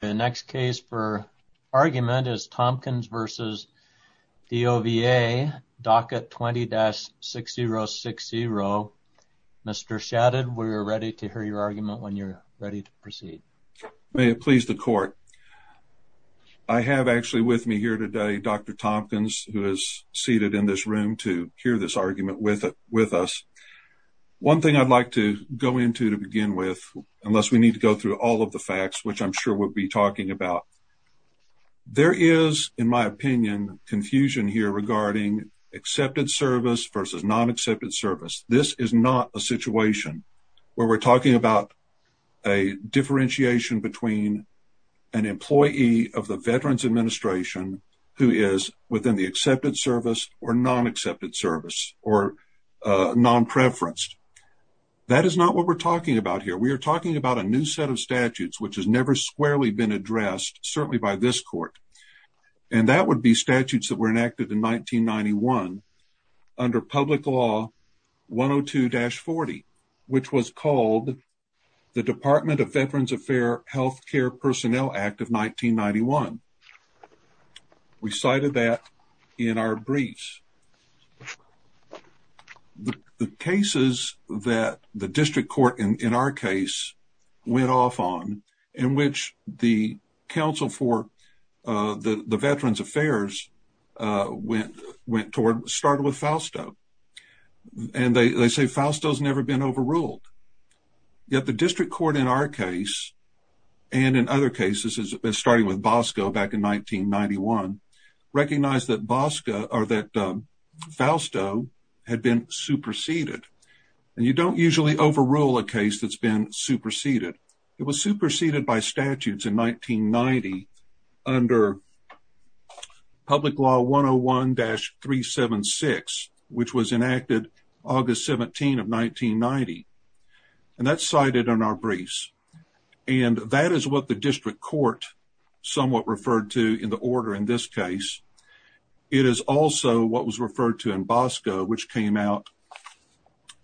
The next case for argument is Tompkins v. DOVA, docket 20-6060. Mr. Shadid, we're ready to hear your argument when you're ready to proceed. May it please the court. I have actually with me here today Dr. Tompkins, who is seated in this room to hear this argument with us. One thing I'd like to go into to begin with, unless we need to go through all of the facts, which I'm sure we'll be talking about. There is, in my opinion, confusion here regarding accepted service versus non-accepted service. This is not a situation where we're talking about a differentiation between an employee of the Veterans Administration who is within the accepted service or non-accepted service or non-preferenced. That is not what we're talking about here. We are talking about a new set of statutes, which has never squarely been addressed, certainly by this court. And that would be statutes that were enacted in 1991 under Public Law 102-40, which was called the Department of Veterans Affairs Health Care Personnel Act of 1991. We cited that in our briefs. The cases that the district court in our case went off on, in which the counsel for the Veterans Affairs went toward, started with Fausto. And they say Fausto has never been overruled. Yet the district court in our case, and in other cases, starting with Bosco back in 1991, recognized that Fausto had been superseded. And you don't usually overrule a case that's been superseded. It was superseded by statutes in 1990 under Public Law 101-376, which was enacted August 17 of 1990. And that's cited in our briefs. And that is what the district court somewhat referred to in the order in this case. It is also what was referred to in Bosco, which came out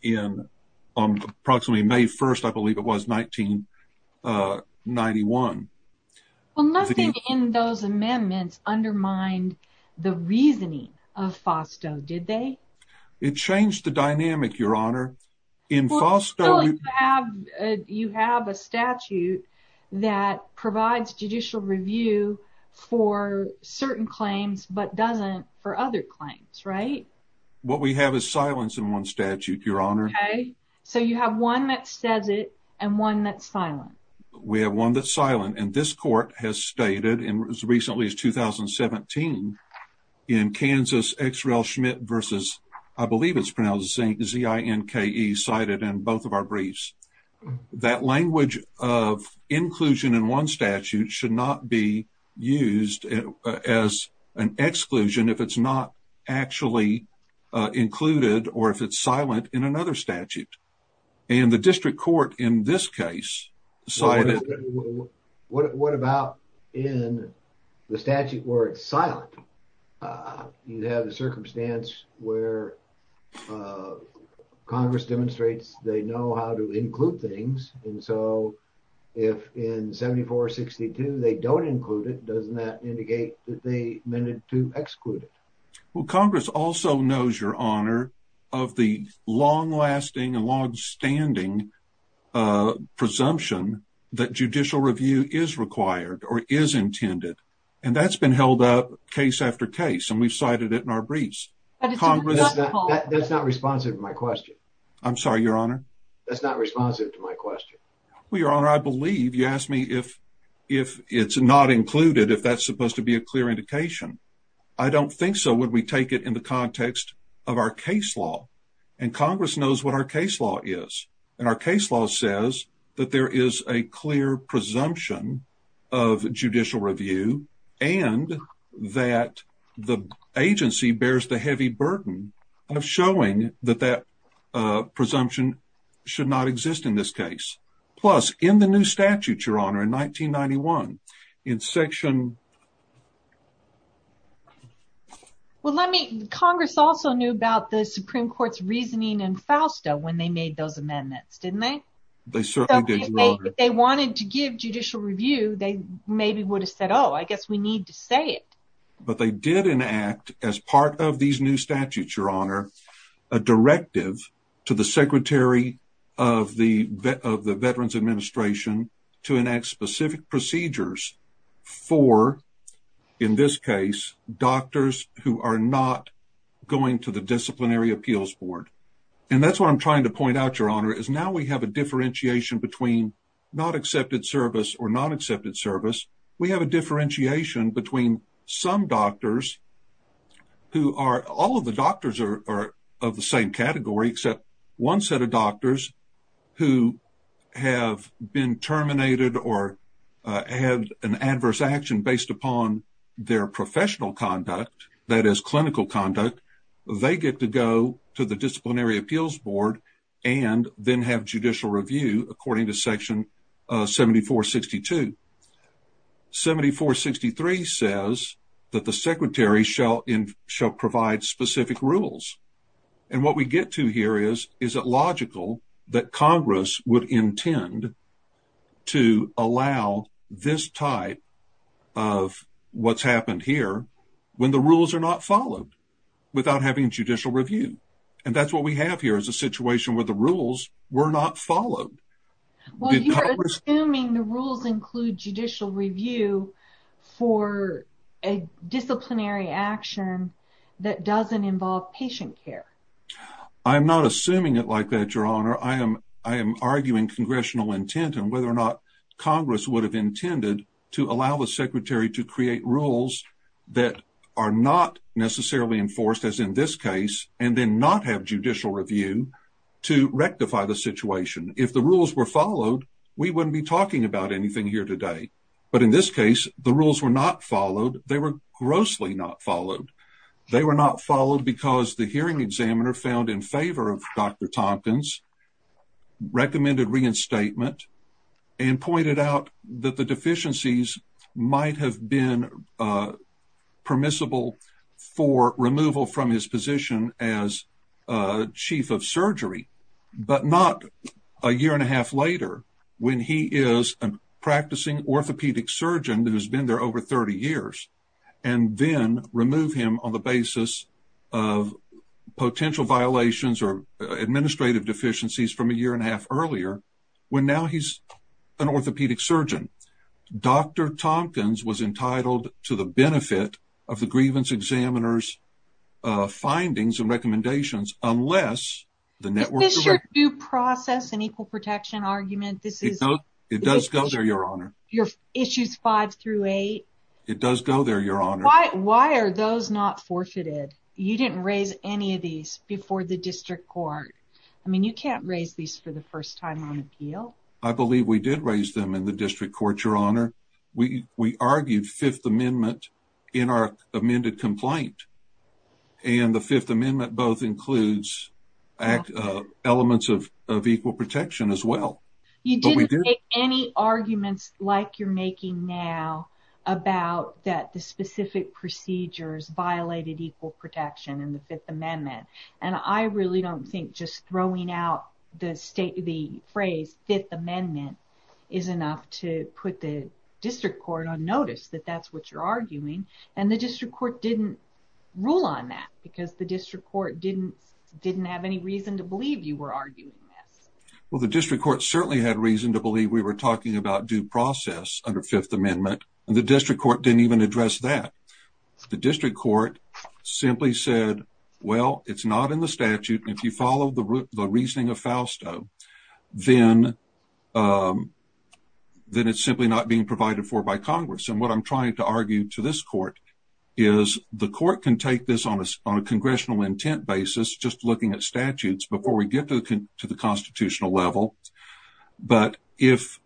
in approximately May 1st, I believe it was, 1991. Well, nothing in those amendments undermined the reasoning of Fausto, did they? It changed the dynamic, Your Honor. You have a statute that provides judicial review for certain claims but doesn't for other claims, right? What we have is silence in one statute, Your Honor. Okay. So you have one that says it and one that's silent. We have one that's silent. And this court has stated, as recently as 2017, in Kansas, X. Rel. Schmidt versus, I believe it's pronounced Z. I. N. K. E. cited in both of our briefs. That language of inclusion in one statute should not be used as an exclusion if it's not actually included or if it's silent in another statute. And the district court in this case cited... What about in the statute where it's silent? You have the circumstance where Congress demonstrates they know how to include things. And so if in 7462 they don't include it, doesn't that indicate that they meant to exclude it? Well, Congress also knows, Your Honor, of the long-lasting and long-standing presumption that judicial review is required or is intended. And that's been held up case after case. And we've cited it in our briefs. That's not responsive to my question. I'm sorry, Your Honor. That's not responsive to my question. Well, Your Honor, I believe you asked me if it's not included, if that's supposed to be a clear indication. I don't think so, we take it in the context of our case law. And Congress knows what our case law is. And our case law says that there is a clear presumption of judicial review and that the agency bears the heavy burden of showing that that presumption should not exist in this case. Plus, in the new statute, Your Honor, in 1991, in section... Well, let me... Congress also knew about the Supreme Court's reasoning in Fausta when they made those amendments, didn't they? They certainly did, Your Honor. They wanted to give judicial review, they maybe would have said, oh, I guess we need to say it. But they did enact, as part of these new statutes, Your Honor, a directive to the Secretary of the Veterans Administration to enact specific procedures for, in this case, doctors who are not going to the Disciplinary Appeals Board. And that's what I'm trying to point out, Your Honor, is now we have a differentiation between not accepted service or non-accepted service. We have a differentiation between some doctors who are... All of the doctors are of the same category, except one set of doctors who have been terminated or had an adverse action based upon their professional conduct, that is clinical conduct, they get to go to the Disciplinary Appeals Board and then have judicial review, according to section 7462. 7463 says that the Secretary shall provide specific rules. And what we get to here is, is it logical that Congress would intend to allow this type of what's happened here when the rules are not followed without having judicial review? And that's what we have here, is a situation where the rules were not followed. Well, you're assuming the rules include judicial review for a disciplinary action that doesn't involve patient care. I'm not assuming it like that, Your Honor. I am arguing congressional intent on whether or not Congress would have intended to allow the Secretary to create rules that are not necessarily enforced, as in this case, and then not have judicial review to rectify the situation. If the rules were followed, we wouldn't be talking about anything here today. But in this case, the rules were not followed. They were grossly not followed. They were not followed because the hearing examiner found in favor of Dr. Tompkins, recommended reinstatement, and pointed out that the deficiencies might have been permissible for removal from his position as chief of surgery, but not a year and a half later, when he is a practicing orthopedic surgeon who's been there over 30 years, and then remove him on the basis of potential violations or administrative deficiencies from a year and a half earlier, when now he's an orthopedic surgeon. Dr. Tompkins was entitled to the benefit of the grievance examiner's findings and recommendations, unless the network... Is this your due process and equal protection argument? It does go there, Your Honor. Your issues five through eight? It does go there, Your Honor. Why are those not forfeited? You didn't raise any of these before the district court. I mean, you can't raise these for the first time on appeal. I believe we did raise them in the district court, Your Honor. We argued Fifth Amendment in our amended complaint, and the Fifth Amendment both includes elements of equal protection as well. You didn't make any arguments like you're making now about that the specific procedures violated equal protection in the Fifth Amendment, and I really don't think just throwing out the phrase Fifth Amendment is enough to put the district court on notice that that's what you're arguing, and the district court didn't rule on that because the district court didn't have any reason to believe you were arguing this. Well, the district court certainly had reason to believe we were talking about due process under Fifth Amendment, and the district court didn't even address that. The district court simply said, well, it's not in the statute, and if you follow the then it's simply not being provided for by Congress, and what I'm trying to argue to this court is the court can take this on a congressional intent basis just looking at statutes before we get to the constitutional level, but if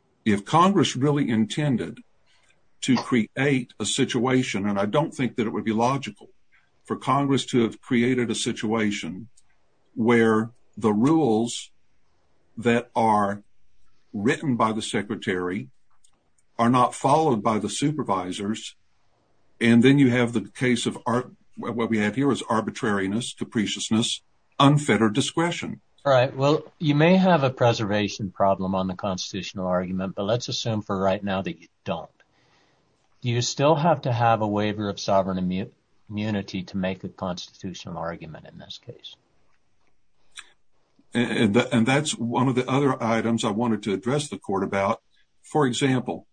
Congress really intended to create a situation, and I don't think that it would be logical for Congress to have created a situation where the rules that are written by the secretary are not followed by the supervisors, and then you have the case of what we have here is arbitrariness, capriciousness, unfettered discretion. All right. Well, you may have a preservation problem on the constitutional argument, but let's assume for right now that you don't. Do you still have to have a waiver of sovereign immunity to make a constitutional argument in this case? And that's one of the other items I wanted to address the court about. For example,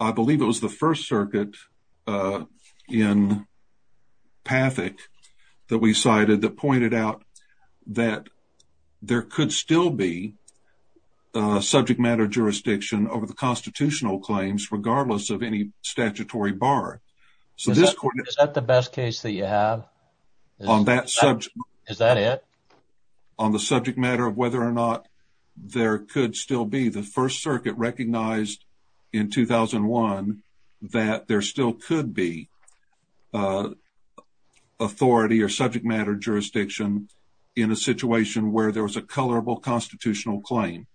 I believe it was the First Circuit in Pathak that we cited that pointed out that there could still be subject matter jurisdiction over the constitutional claims regardless of any statutory bar. Is that the best case that you have? Is that it? On the subject matter of whether or not there could still be. The First Circuit recognized in 2001 that there still could be authority or subject where there was a colorable constitutional claim.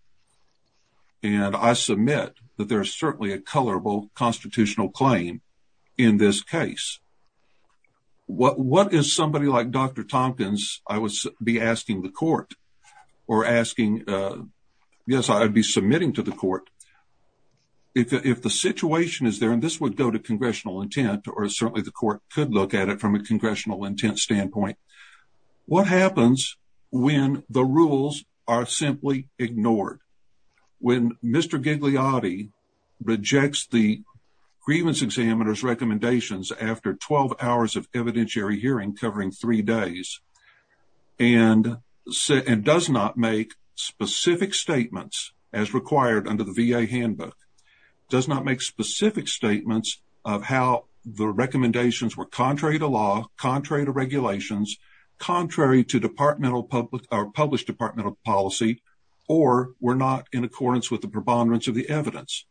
And I submit that there is certainly a colorable constitutional claim in this case. What is somebody like Dr. Tompkins, I would be asking the court or asking. Yes, I'd be submitting to the court. If the situation is there, and this would go to congressional intent or certainly the court could look at it from a congressional intent standpoint. What happens when the rules are simply ignored? When Mr. Gigliotti rejects the grievance examiner's recommendations after 12 hours of evidentiary hearing covering three days and does not make specific statements as required under the VA handbook, does not make specific statements of how the recommendations were contrary to regulations, contrary to departmental public or published departmental policy, or were not in accordance with the preponderance of the evidence.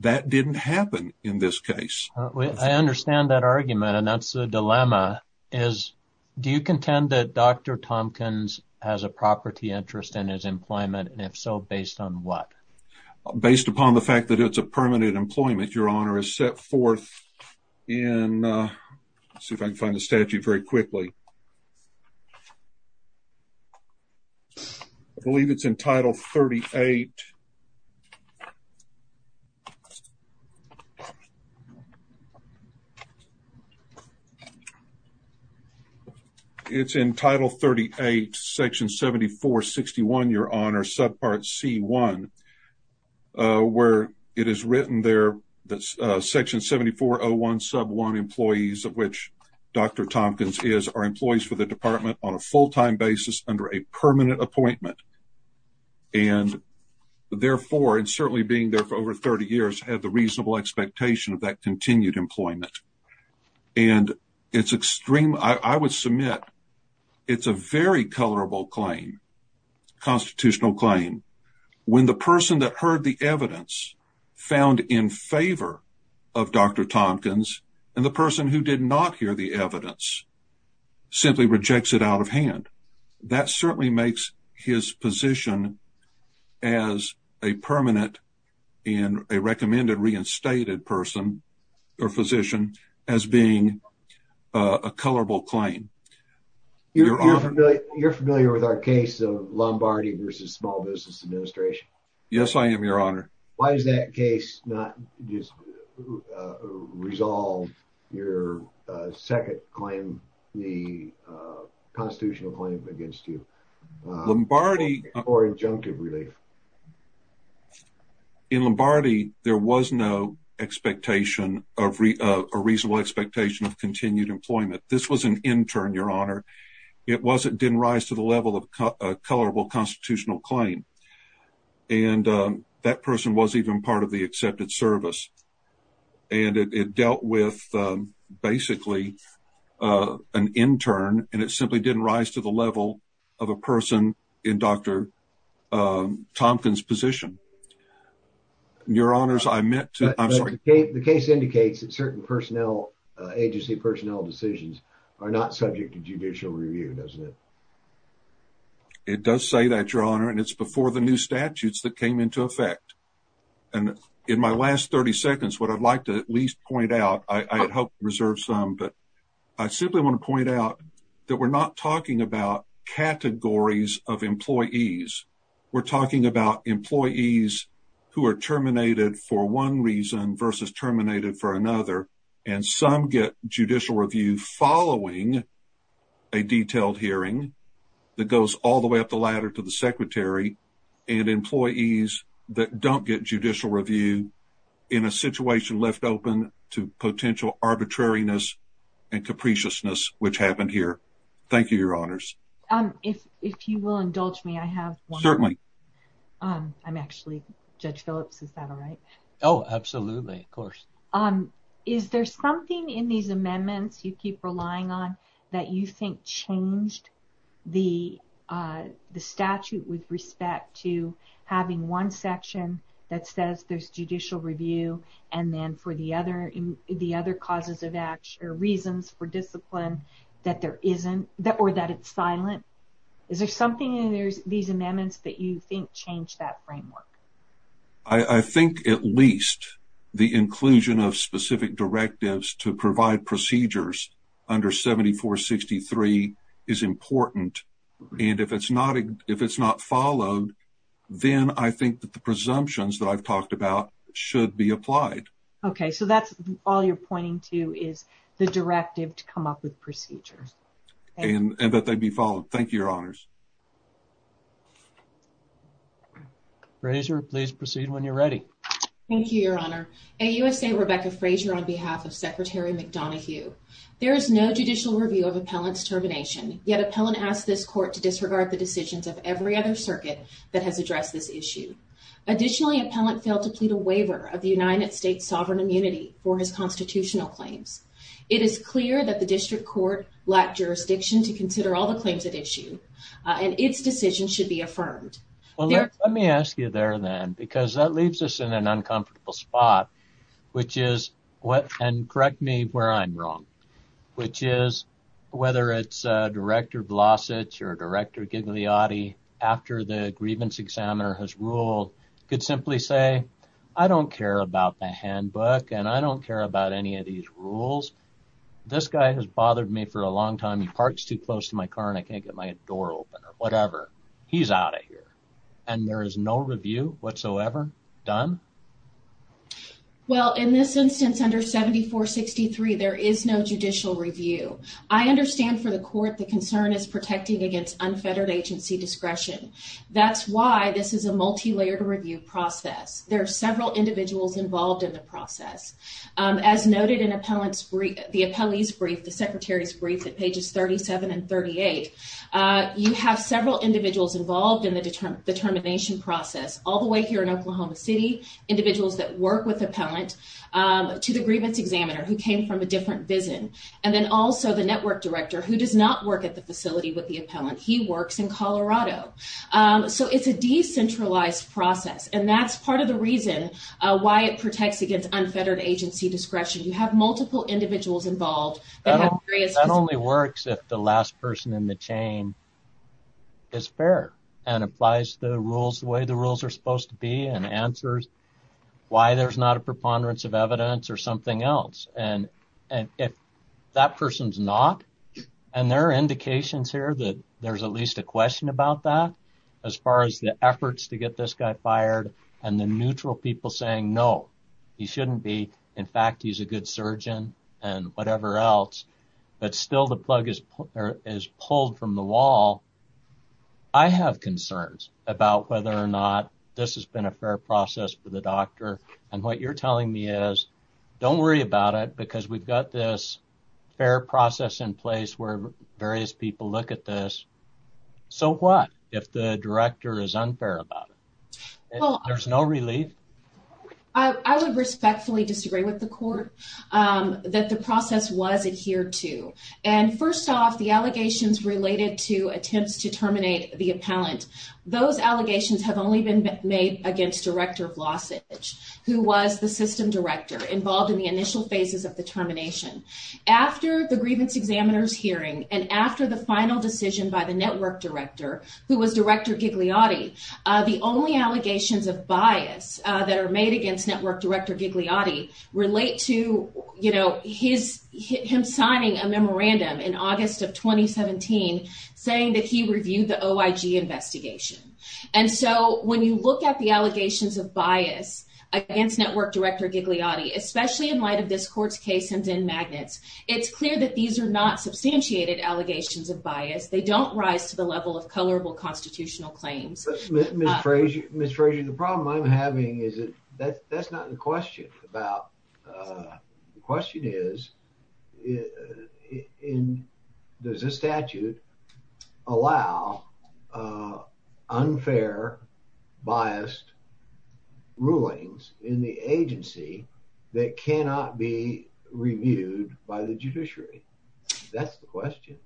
That didn't happen in this case. I understand that argument. And that's the dilemma is, do you contend that Dr. Tompkins has a property interest in his employment? And if so, based on what? Based upon the fact that it's a permanent employment. Your honor is set forth in, uh, let's see if I can find the statute very quickly. I believe it's in title 38. It's in title 38, section 7461, your honor, subpart C1. Uh, where it is written there that, uh, section 7401 sub one employees of which Dr. Tompkins is our employees for the department on a full time basis under a permanent appointment. And therefore, and certainly being there for over 30 years, had the reasonable expectation of that continued employment. And it's extreme. I would submit it's a very colorable claim. Constitutional claim. When the person that heard the evidence found in favor of Dr. Tompkins and the person who did not hear the evidence simply rejects it out of hand. That certainly makes his position as a permanent and a recommended reinstated person or physician as being a colorable claim. You're familiar, you're familiar with our case of Lombardi versus small business administration. Yes, I am your honor. Why is that case not just, uh, resolve your, uh, second claim, the, uh, constitutional claim against you Lombardi or injunctive relief. In Lombardi, there was no expectation of a reasonable expectation of continued employment. This was an intern, your honor. It wasn't, didn't rise to the level of a colorable constitutional claim. And, um, that person was even part of the accepted service. And it dealt with, um, basically, uh, an intern and it simply didn't rise to the level of a person in Dr. Tompkins position, your honors. I'm sorry. The case indicates that certain personnel, uh, agency personnel decisions are not subject to judicial review, doesn't it? It does say that your honor, and it's before the new statutes that came into effect. And in my last 30 seconds, what I'd like to at least point out, I had hoped to reserve some, but I simply want to point out that we're not talking about categories of employees. We're talking about employees who are terminated for one reason versus terminated for another. And some get judicial review following a detailed hearing that goes all the way up the ladder to the secretary and employees that don't get judicial review in a situation left open to potential arbitrariness and capriciousness, which happened here. Thank you, your honors. Um, if, if you will indulge me, I have certainly, um, I'm actually judge Phillips. Is that all right? Oh, absolutely. Of course. Um, is there something in these amendments you keep relying on that you think changed the, uh, the statute with respect to having one section that says there's judicial review and then for the other, the other causes of action or reasons for discipline that there silent? Is there something in these amendments that you think changed that framework? I think at least the inclusion of specific directives to provide procedures under 7463 is important. And if it's not, if it's not followed, then I think that the presumptions that I've talked about should be applied. Okay. So that's all you're pointing to is the directive to come up with procedures. And that they'd be followed. Thank you, your honors. Frazier, please proceed when you're ready. Thank you, your honor. AUSA Rebecca Frazier on behalf of secretary McDonoghue. There is no judicial review of appellant's termination. Yet appellant asked this court to disregard the decisions of every other circuit that has addressed this issue. Additionally, appellant failed to plead a waiver of the United States sovereign immunity for his constitutional claims. It is clear that the district court lacked jurisdiction to consider all the claims at issue and its decision should be affirmed. Well, let me ask you there then, because that leaves us in an uncomfortable spot, which is what, and correct me where I'm wrong, which is whether it's a director Vlasic or director Gigliotti after the grievance examiner has ruled could simply say, I don't care about the handbook and I don't care about any of these rules. This guy has bothered me for a long time. He parks too close to my car and I can't get my door open or whatever. He's out of here. And there is no review whatsoever done? Well, in this instance under 7463, there is no judicial review. I understand for the court, the concern is protecting against unfettered agency discretion. That's why this is a multi-layered review process. There are several individuals involved in the process. As noted in the appellee's brief, the secretary's brief at pages 37 and 38, you have several individuals involved in the determination process. All the way here in Oklahoma City, individuals that work with appellant to the grievance examiner who came from a different vision. And then also the network director who does not work at the facility with the appellant. He works in Colorado. So it's a decentralized process. And that's part of the reason why it protects against unfettered agency discretion. You have multiple individuals involved. That only works if the last person in the chain is fair and applies the rules the way the rules are supposed to be and answers why there's not a preponderance of evidence or something else. And if that person's not, and there are indications here that there's at least a as far as the efforts to get this guy fired and the neutral people saying, no, he shouldn't be. In fact, he's a good surgeon and whatever else, but still the plug is pulled from the wall. I have concerns about whether or not this has been a fair process for the doctor. And what you're telling me is, don't worry about it because we've got this fair process in place where various people look at this. So what if the director is unfair about it? There's no relief. I would respectfully disagree with the court that the process was adhered to. And first off the allegations related to attempts to terminate the appellant. Those allegations have only been made against director of losses, who was the system director involved in the initial phases of the termination after the grievance examiners hearing. And after the final decision by the network director who was director Gigliotti, the only allegations of bias that are made against network director Gigliotti relate to him signing a memorandum in August of 2017, saying that he reviewed the OIG investigation. And so when you look at the allegations of bias against network director Gigliotti, especially in light of this court's case and in magnets, it's clear that these are not substantiated allegations of bias. They don't rise to the level of colorable constitutional claims. Ms. Fraser, the problem I'm having is that that's not the question about, the question is, does this statute allow unfair biased rulings in the agency that cannot be reviewed by the judiciary? That's the question.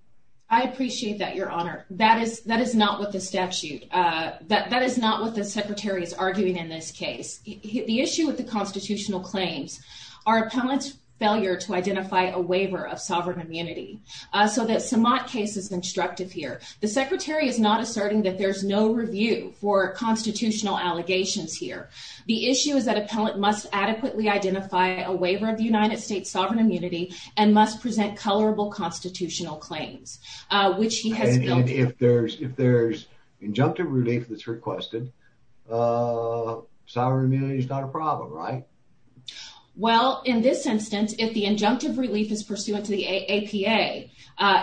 I appreciate that, your honor. That is not what the statute, that is not what the secretary is arguing in this case. The issue with the constitutional claims are appellant's failure to identify a waiver of sovereign immunity. So that Samant case is instructive here. The secretary is not asserting that there's no review for constitutional allegations here. The issue is that appellant must adequately identify a waiver of the United States sovereign immunity and must present colorable constitutional claims, which he has- If there's injunctive relief that's requested, sovereign immunity is not a problem, right? Well, in this instance, if the injunctive relief is pursuant to the APA,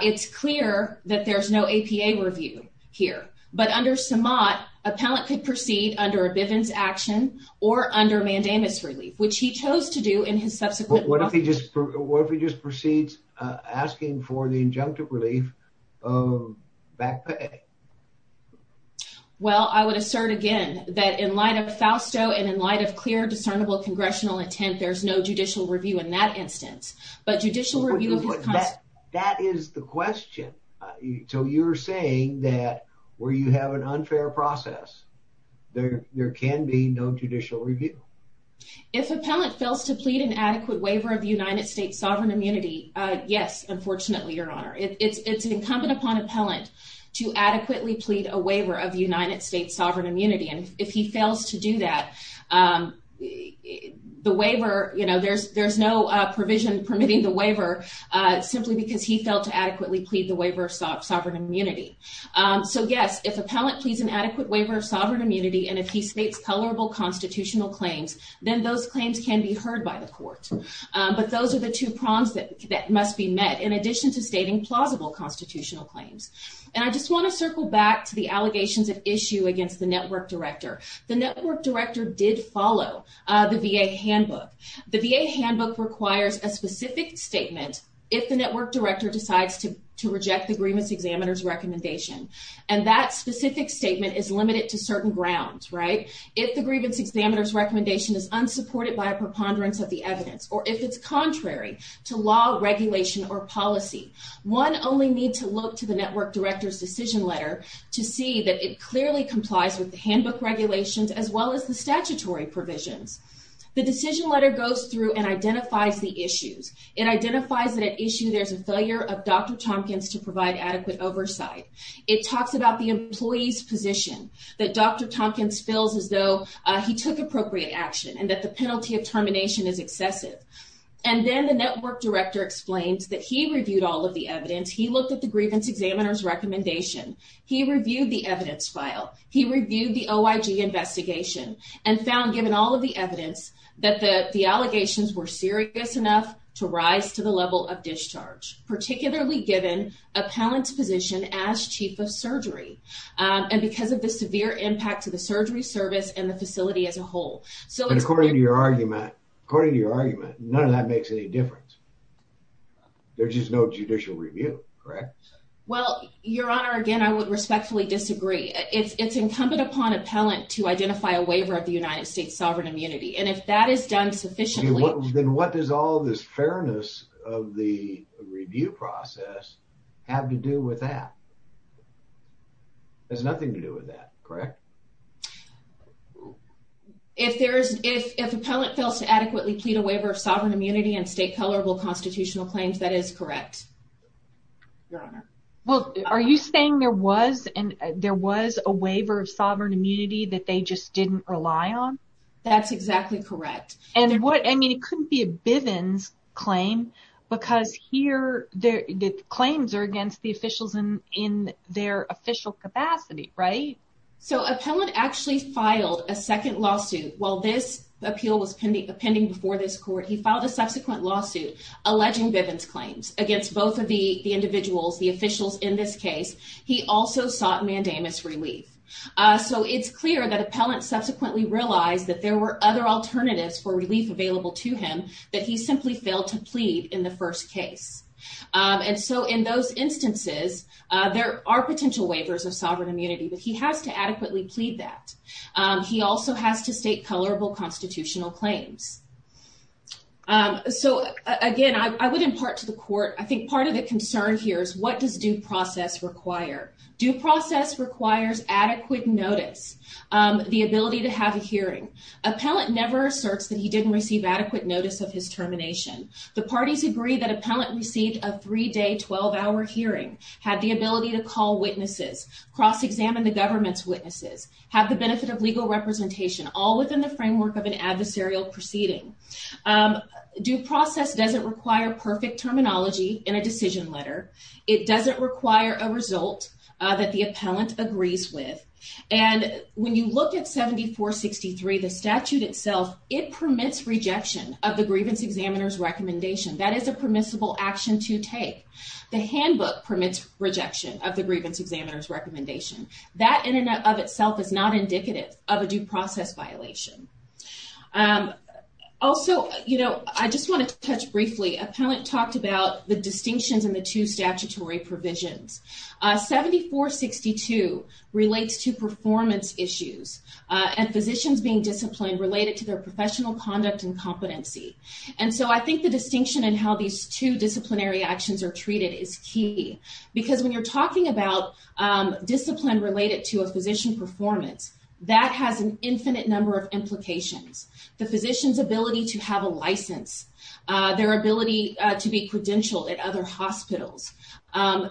it's clear that there's no APA review here. But under Samant, appellant could proceed under a Bivens action or under Mandamus relief, which he chose to do in his subsequent- What if he just proceeds asking for the injunctive relief of back pay? Well, I would assert again that in light of FAUSTO and in light of clear discernible congressional intent, there's no judicial review in that instance. But judicial review- That is the question. So you're saying that where you have an unfair process, there can be no judicial review? If appellant fails to plead an adequate waiver of the United States sovereign immunity, yes, unfortunately, Your Honor. It's incumbent upon appellant to adequately plead a waiver of the United States sovereign immunity. And if he fails to do that, the waiver, there's no provision permitting the waiver simply because he failed to adequately plead the waiver of sovereign immunity. So yes, if appellant pleads an adequate waiver of sovereign immunity and if he states colorable constitutional claims, then those claims can be heard by the court. But those are the two prongs that must be met in addition to stating plausible constitutional claims. And I just want to circle back to the allegations of issue against the network director. The network director did follow the VA handbook. The VA handbook requires a specific statement if the network director decides to reject the grievance examiner's recommendation. And that specific statement is limited to certain grounds, right? If the grievance examiner's recommendation is unsupported by a preponderance of the evidence or if it's contrary to law, regulation, or policy, one only need to look to the network director's decision letter to see that it clearly complies with the handbook regulations as well as the statutory provisions. The decision letter goes through and identifies the issues. It identifies that at issue, there's a failure of Dr. Tompkins to provide adequate oversight. It talks about the employee's position, that Dr. Tompkins feels as though he took appropriate action and that the penalty of termination is excessive. And then the network director explains that he reviewed all of the evidence. He looked at the grievance examiner's recommendation. He reviewed the evidence file. He reviewed the OIG investigation and found, given all of the evidence, that the allegations were serious enough to rise to the level of discharge, particularly given appellant's position as chief of surgery and because of the severe impact to the surgery service and the facility as a whole. So it's- And according to your argument, none of that makes any difference. There's just no judicial review, correct? Well, Your Honor, again, I would respectfully disagree. It's incumbent upon appellant to identify a waiver of the United States sovereign immunity. And if that is done sufficiently- Review process have to do with that. There's nothing to do with that, correct? If there's- If appellant fails to adequately plead a waiver of sovereign immunity and state colorable constitutional claims, that is correct, Your Honor. Well, are you saying there was a waiver of sovereign immunity that they just didn't rely on? That's exactly correct. And what- I mean, it couldn't be a Bivens claim because here the claims are against the officials in their official capacity, right? So appellant actually filed a second lawsuit while this appeal was pending before this court. He filed a subsequent lawsuit alleging Bivens claims against both of the individuals, the officials in this case. He also sought mandamus relief. So it's clear that appellant subsequently realized that there were other alternatives for relief available to him that he simply failed to plead in the first case. And so in those instances, there are potential waivers of sovereign immunity, but he has to adequately plead that. He also has to state colorable constitutional claims. So again, I would impart to the court, I think part of the concern here is what does due process require? Due process requires adequate notice, the ability to have a hearing. Appellant never asserts that he didn't receive adequate notice of his termination. The parties agree that appellant received a three-day, 12-hour hearing, had the ability to call witnesses, cross-examine the government's witnesses, have the benefit of legal representation, all within the framework of an adversarial proceeding. Due process doesn't require perfect terminology in a decision letter. It doesn't require a result that the appellant agrees with. And when you look at 7463, the statute itself, it permits rejection of the grievance examiner's recommendation. That is a permissible action to take. The handbook permits rejection of the grievance examiner's recommendation. That in and of itself is not indicative of a due process violation. Also, I just want to touch briefly. Appellant talked about the distinctions in the two statutory provisions. 7462 relates to performance issues and physicians being disciplined related to their professional conduct and competency. And so I think the distinction in how these two disciplinary actions are treated is key. Because when you're talking about discipline related to a physician performance, that has an infinite number of implications. The physician's ability to have a license, their ability to be credentialed at other hospitals,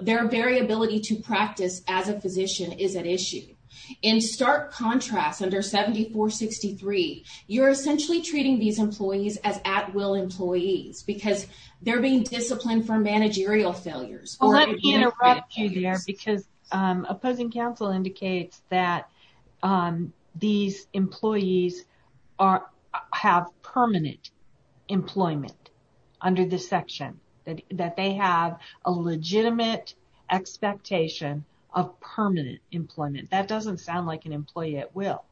their variability to practice as a physician is at issue. In stark contrast, under 7463, you're essentially treating these employees as at-will employees because they're being disciplined for managerial failures. Well, let me interrupt you there because opposing counsel indicates that these employees have permanent employment under this section. That they have a legitimate expectation of permanent employment. That doesn't sound like an employee at will.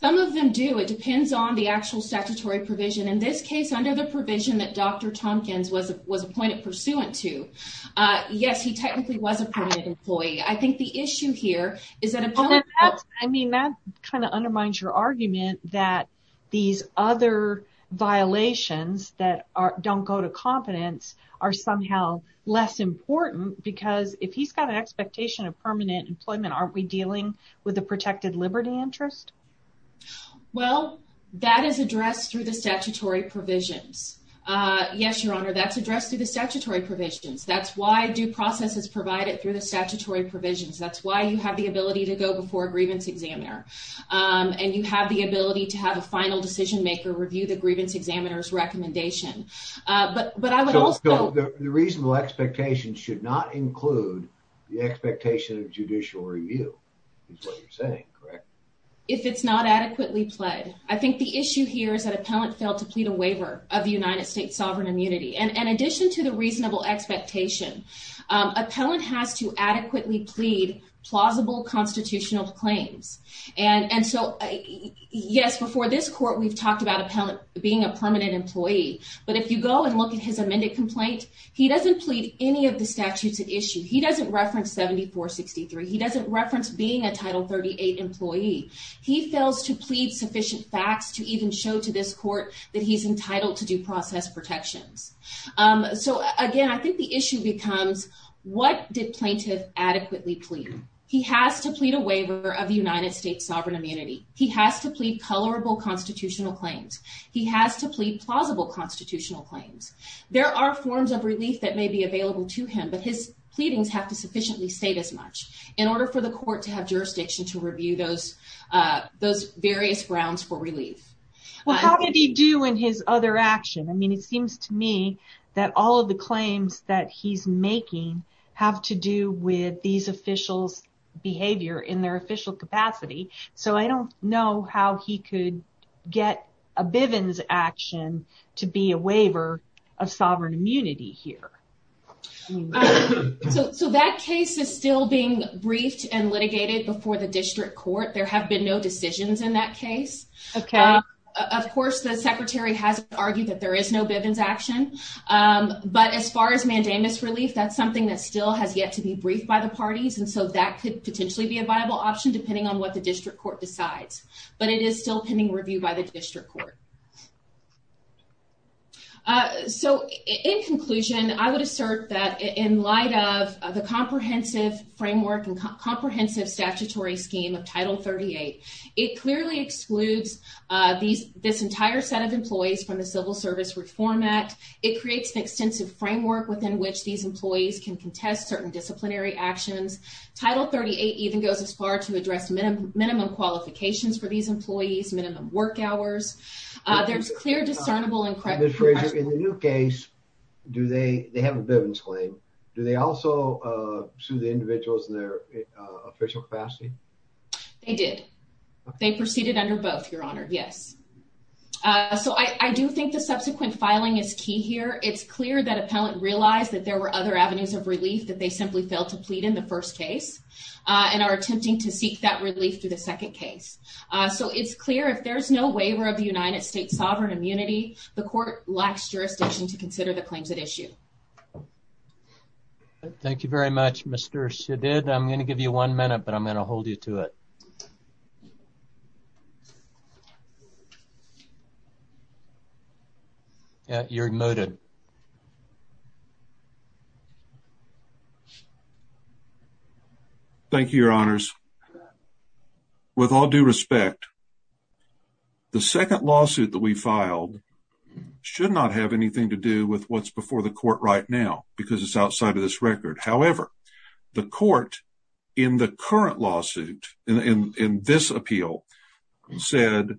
Some of them do. It depends on the actual statutory provision. In this case, under the provision that Dr. Tompkins was appointed pursuant to, yes, he technically was a permanent employee. I think the issue here is that... I mean, that kind of undermines your argument that these other violations that don't go to competence are somehow less important because if he's got an expectation of permanent employment, aren't we dealing with a protected liberty interest? Well, that is addressed through the statutory provisions. Yes, Your Honor, that's addressed through the statutory provisions. That's why due process is provided through the statutory provisions. That's why you have the ability to go before a grievance examiner. And you have the ability to have a final decision maker review the grievance examiner's recommendation. But I would also... So the reasonable expectations should not include the expectation of judicial review, is what you're saying, correct? If it's not adequately pled. I think the issue here is that appellant failed to plead a waiver of the United States sovereign immunity. In addition to the reasonable expectation, appellant has to adequately plead plausible constitutional claims. Yes, before this court, we've talked about appellant being a permanent employee. But if you go and look at his amended complaint, he doesn't plead any of the statutes at issue. He doesn't reference 7463. He doesn't reference being a Title 38 employee. He fails to plead sufficient facts to even show to this court that he's entitled to due process protections. So again, I think the issue becomes, what did plaintiff adequately plead? He has to plead a waiver of the United States sovereign immunity. He has to plead colorable constitutional claims. He has to plead plausible constitutional claims. There are forms of relief that may be available to him, but his pleadings have to sufficiently state as much in order for the court to have jurisdiction to review those various grounds for relief. Well, how did he do in his other action? It seems to me that all of the claims that he's making have to do with these officials' behavior in their official capacity. So I don't know how he could get a Bivens action to be a waiver of sovereign immunity here. So that case is still being briefed and litigated before the district court. There have been no decisions in that case. Of course, the secretary has argued that there is no Bivens action, but as far as mandamus relief, that's something that still has yet to be briefed by the parties. And so that could potentially be a viable option depending on what the district court decides. But it is still pending review by the district court. So in conclusion, I would assert that in light of the comprehensive framework and comprehensive statutory scheme of Title 38, it clearly excludes this entire set of employees from the Civil Service Reform Act. It creates an extensive framework within which these employees can contest certain disciplinary actions. Title 38 even goes as far to address minimum qualifications for these employees, minimum work hours. There's clear, discernible and correct- Ms. Frazier, in the new case, do they have a Bivens claim? Do they also sue the individuals in their official capacity? They did. They proceeded under both, Your Honor. Yes. So I do think the subsequent filing is key here. It's clear that appellant realized that there were other avenues of relief that they simply failed to plead in the first case and are attempting to seek that relief through the second case. So it's clear if there's no waiver of the United States sovereign immunity, the court lacks jurisdiction to consider the claims at issue. Thank you very much, Mr. Shadid. I'm going to give you one minute, but I'm going to hold you to it. Yeah, you're muted. Thank you, Your Honors. With all due respect, the second lawsuit that we filed should not have anything to do with what's before the court right now because it's outside of this record. However, the court in the current lawsuit, in this appeal, said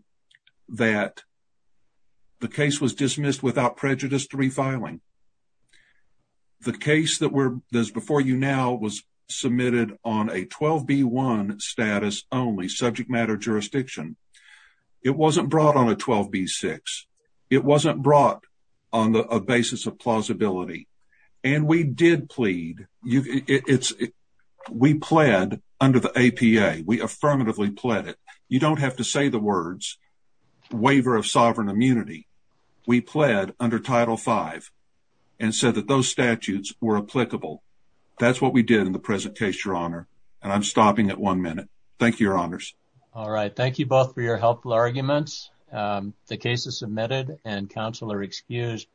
that the case was dismissed without prejudice to refiling. The case that's before you now was submitted on a 12B1 status only, subject matter jurisdiction. It wasn't brought on a 12B6. It wasn't brought on a basis of plausibility. And we did plead. We pled under the APA. We affirmatively pled it. You don't have to say the words, waiver of sovereign immunity. We pled under Title V and said that those statutes were applicable. That's what we did in the present case, Your Honor. And I'm stopping at one minute. Thank you, Your Honors. All right. Thank you both for your helpful arguments. The case is submitted and counsel are excused.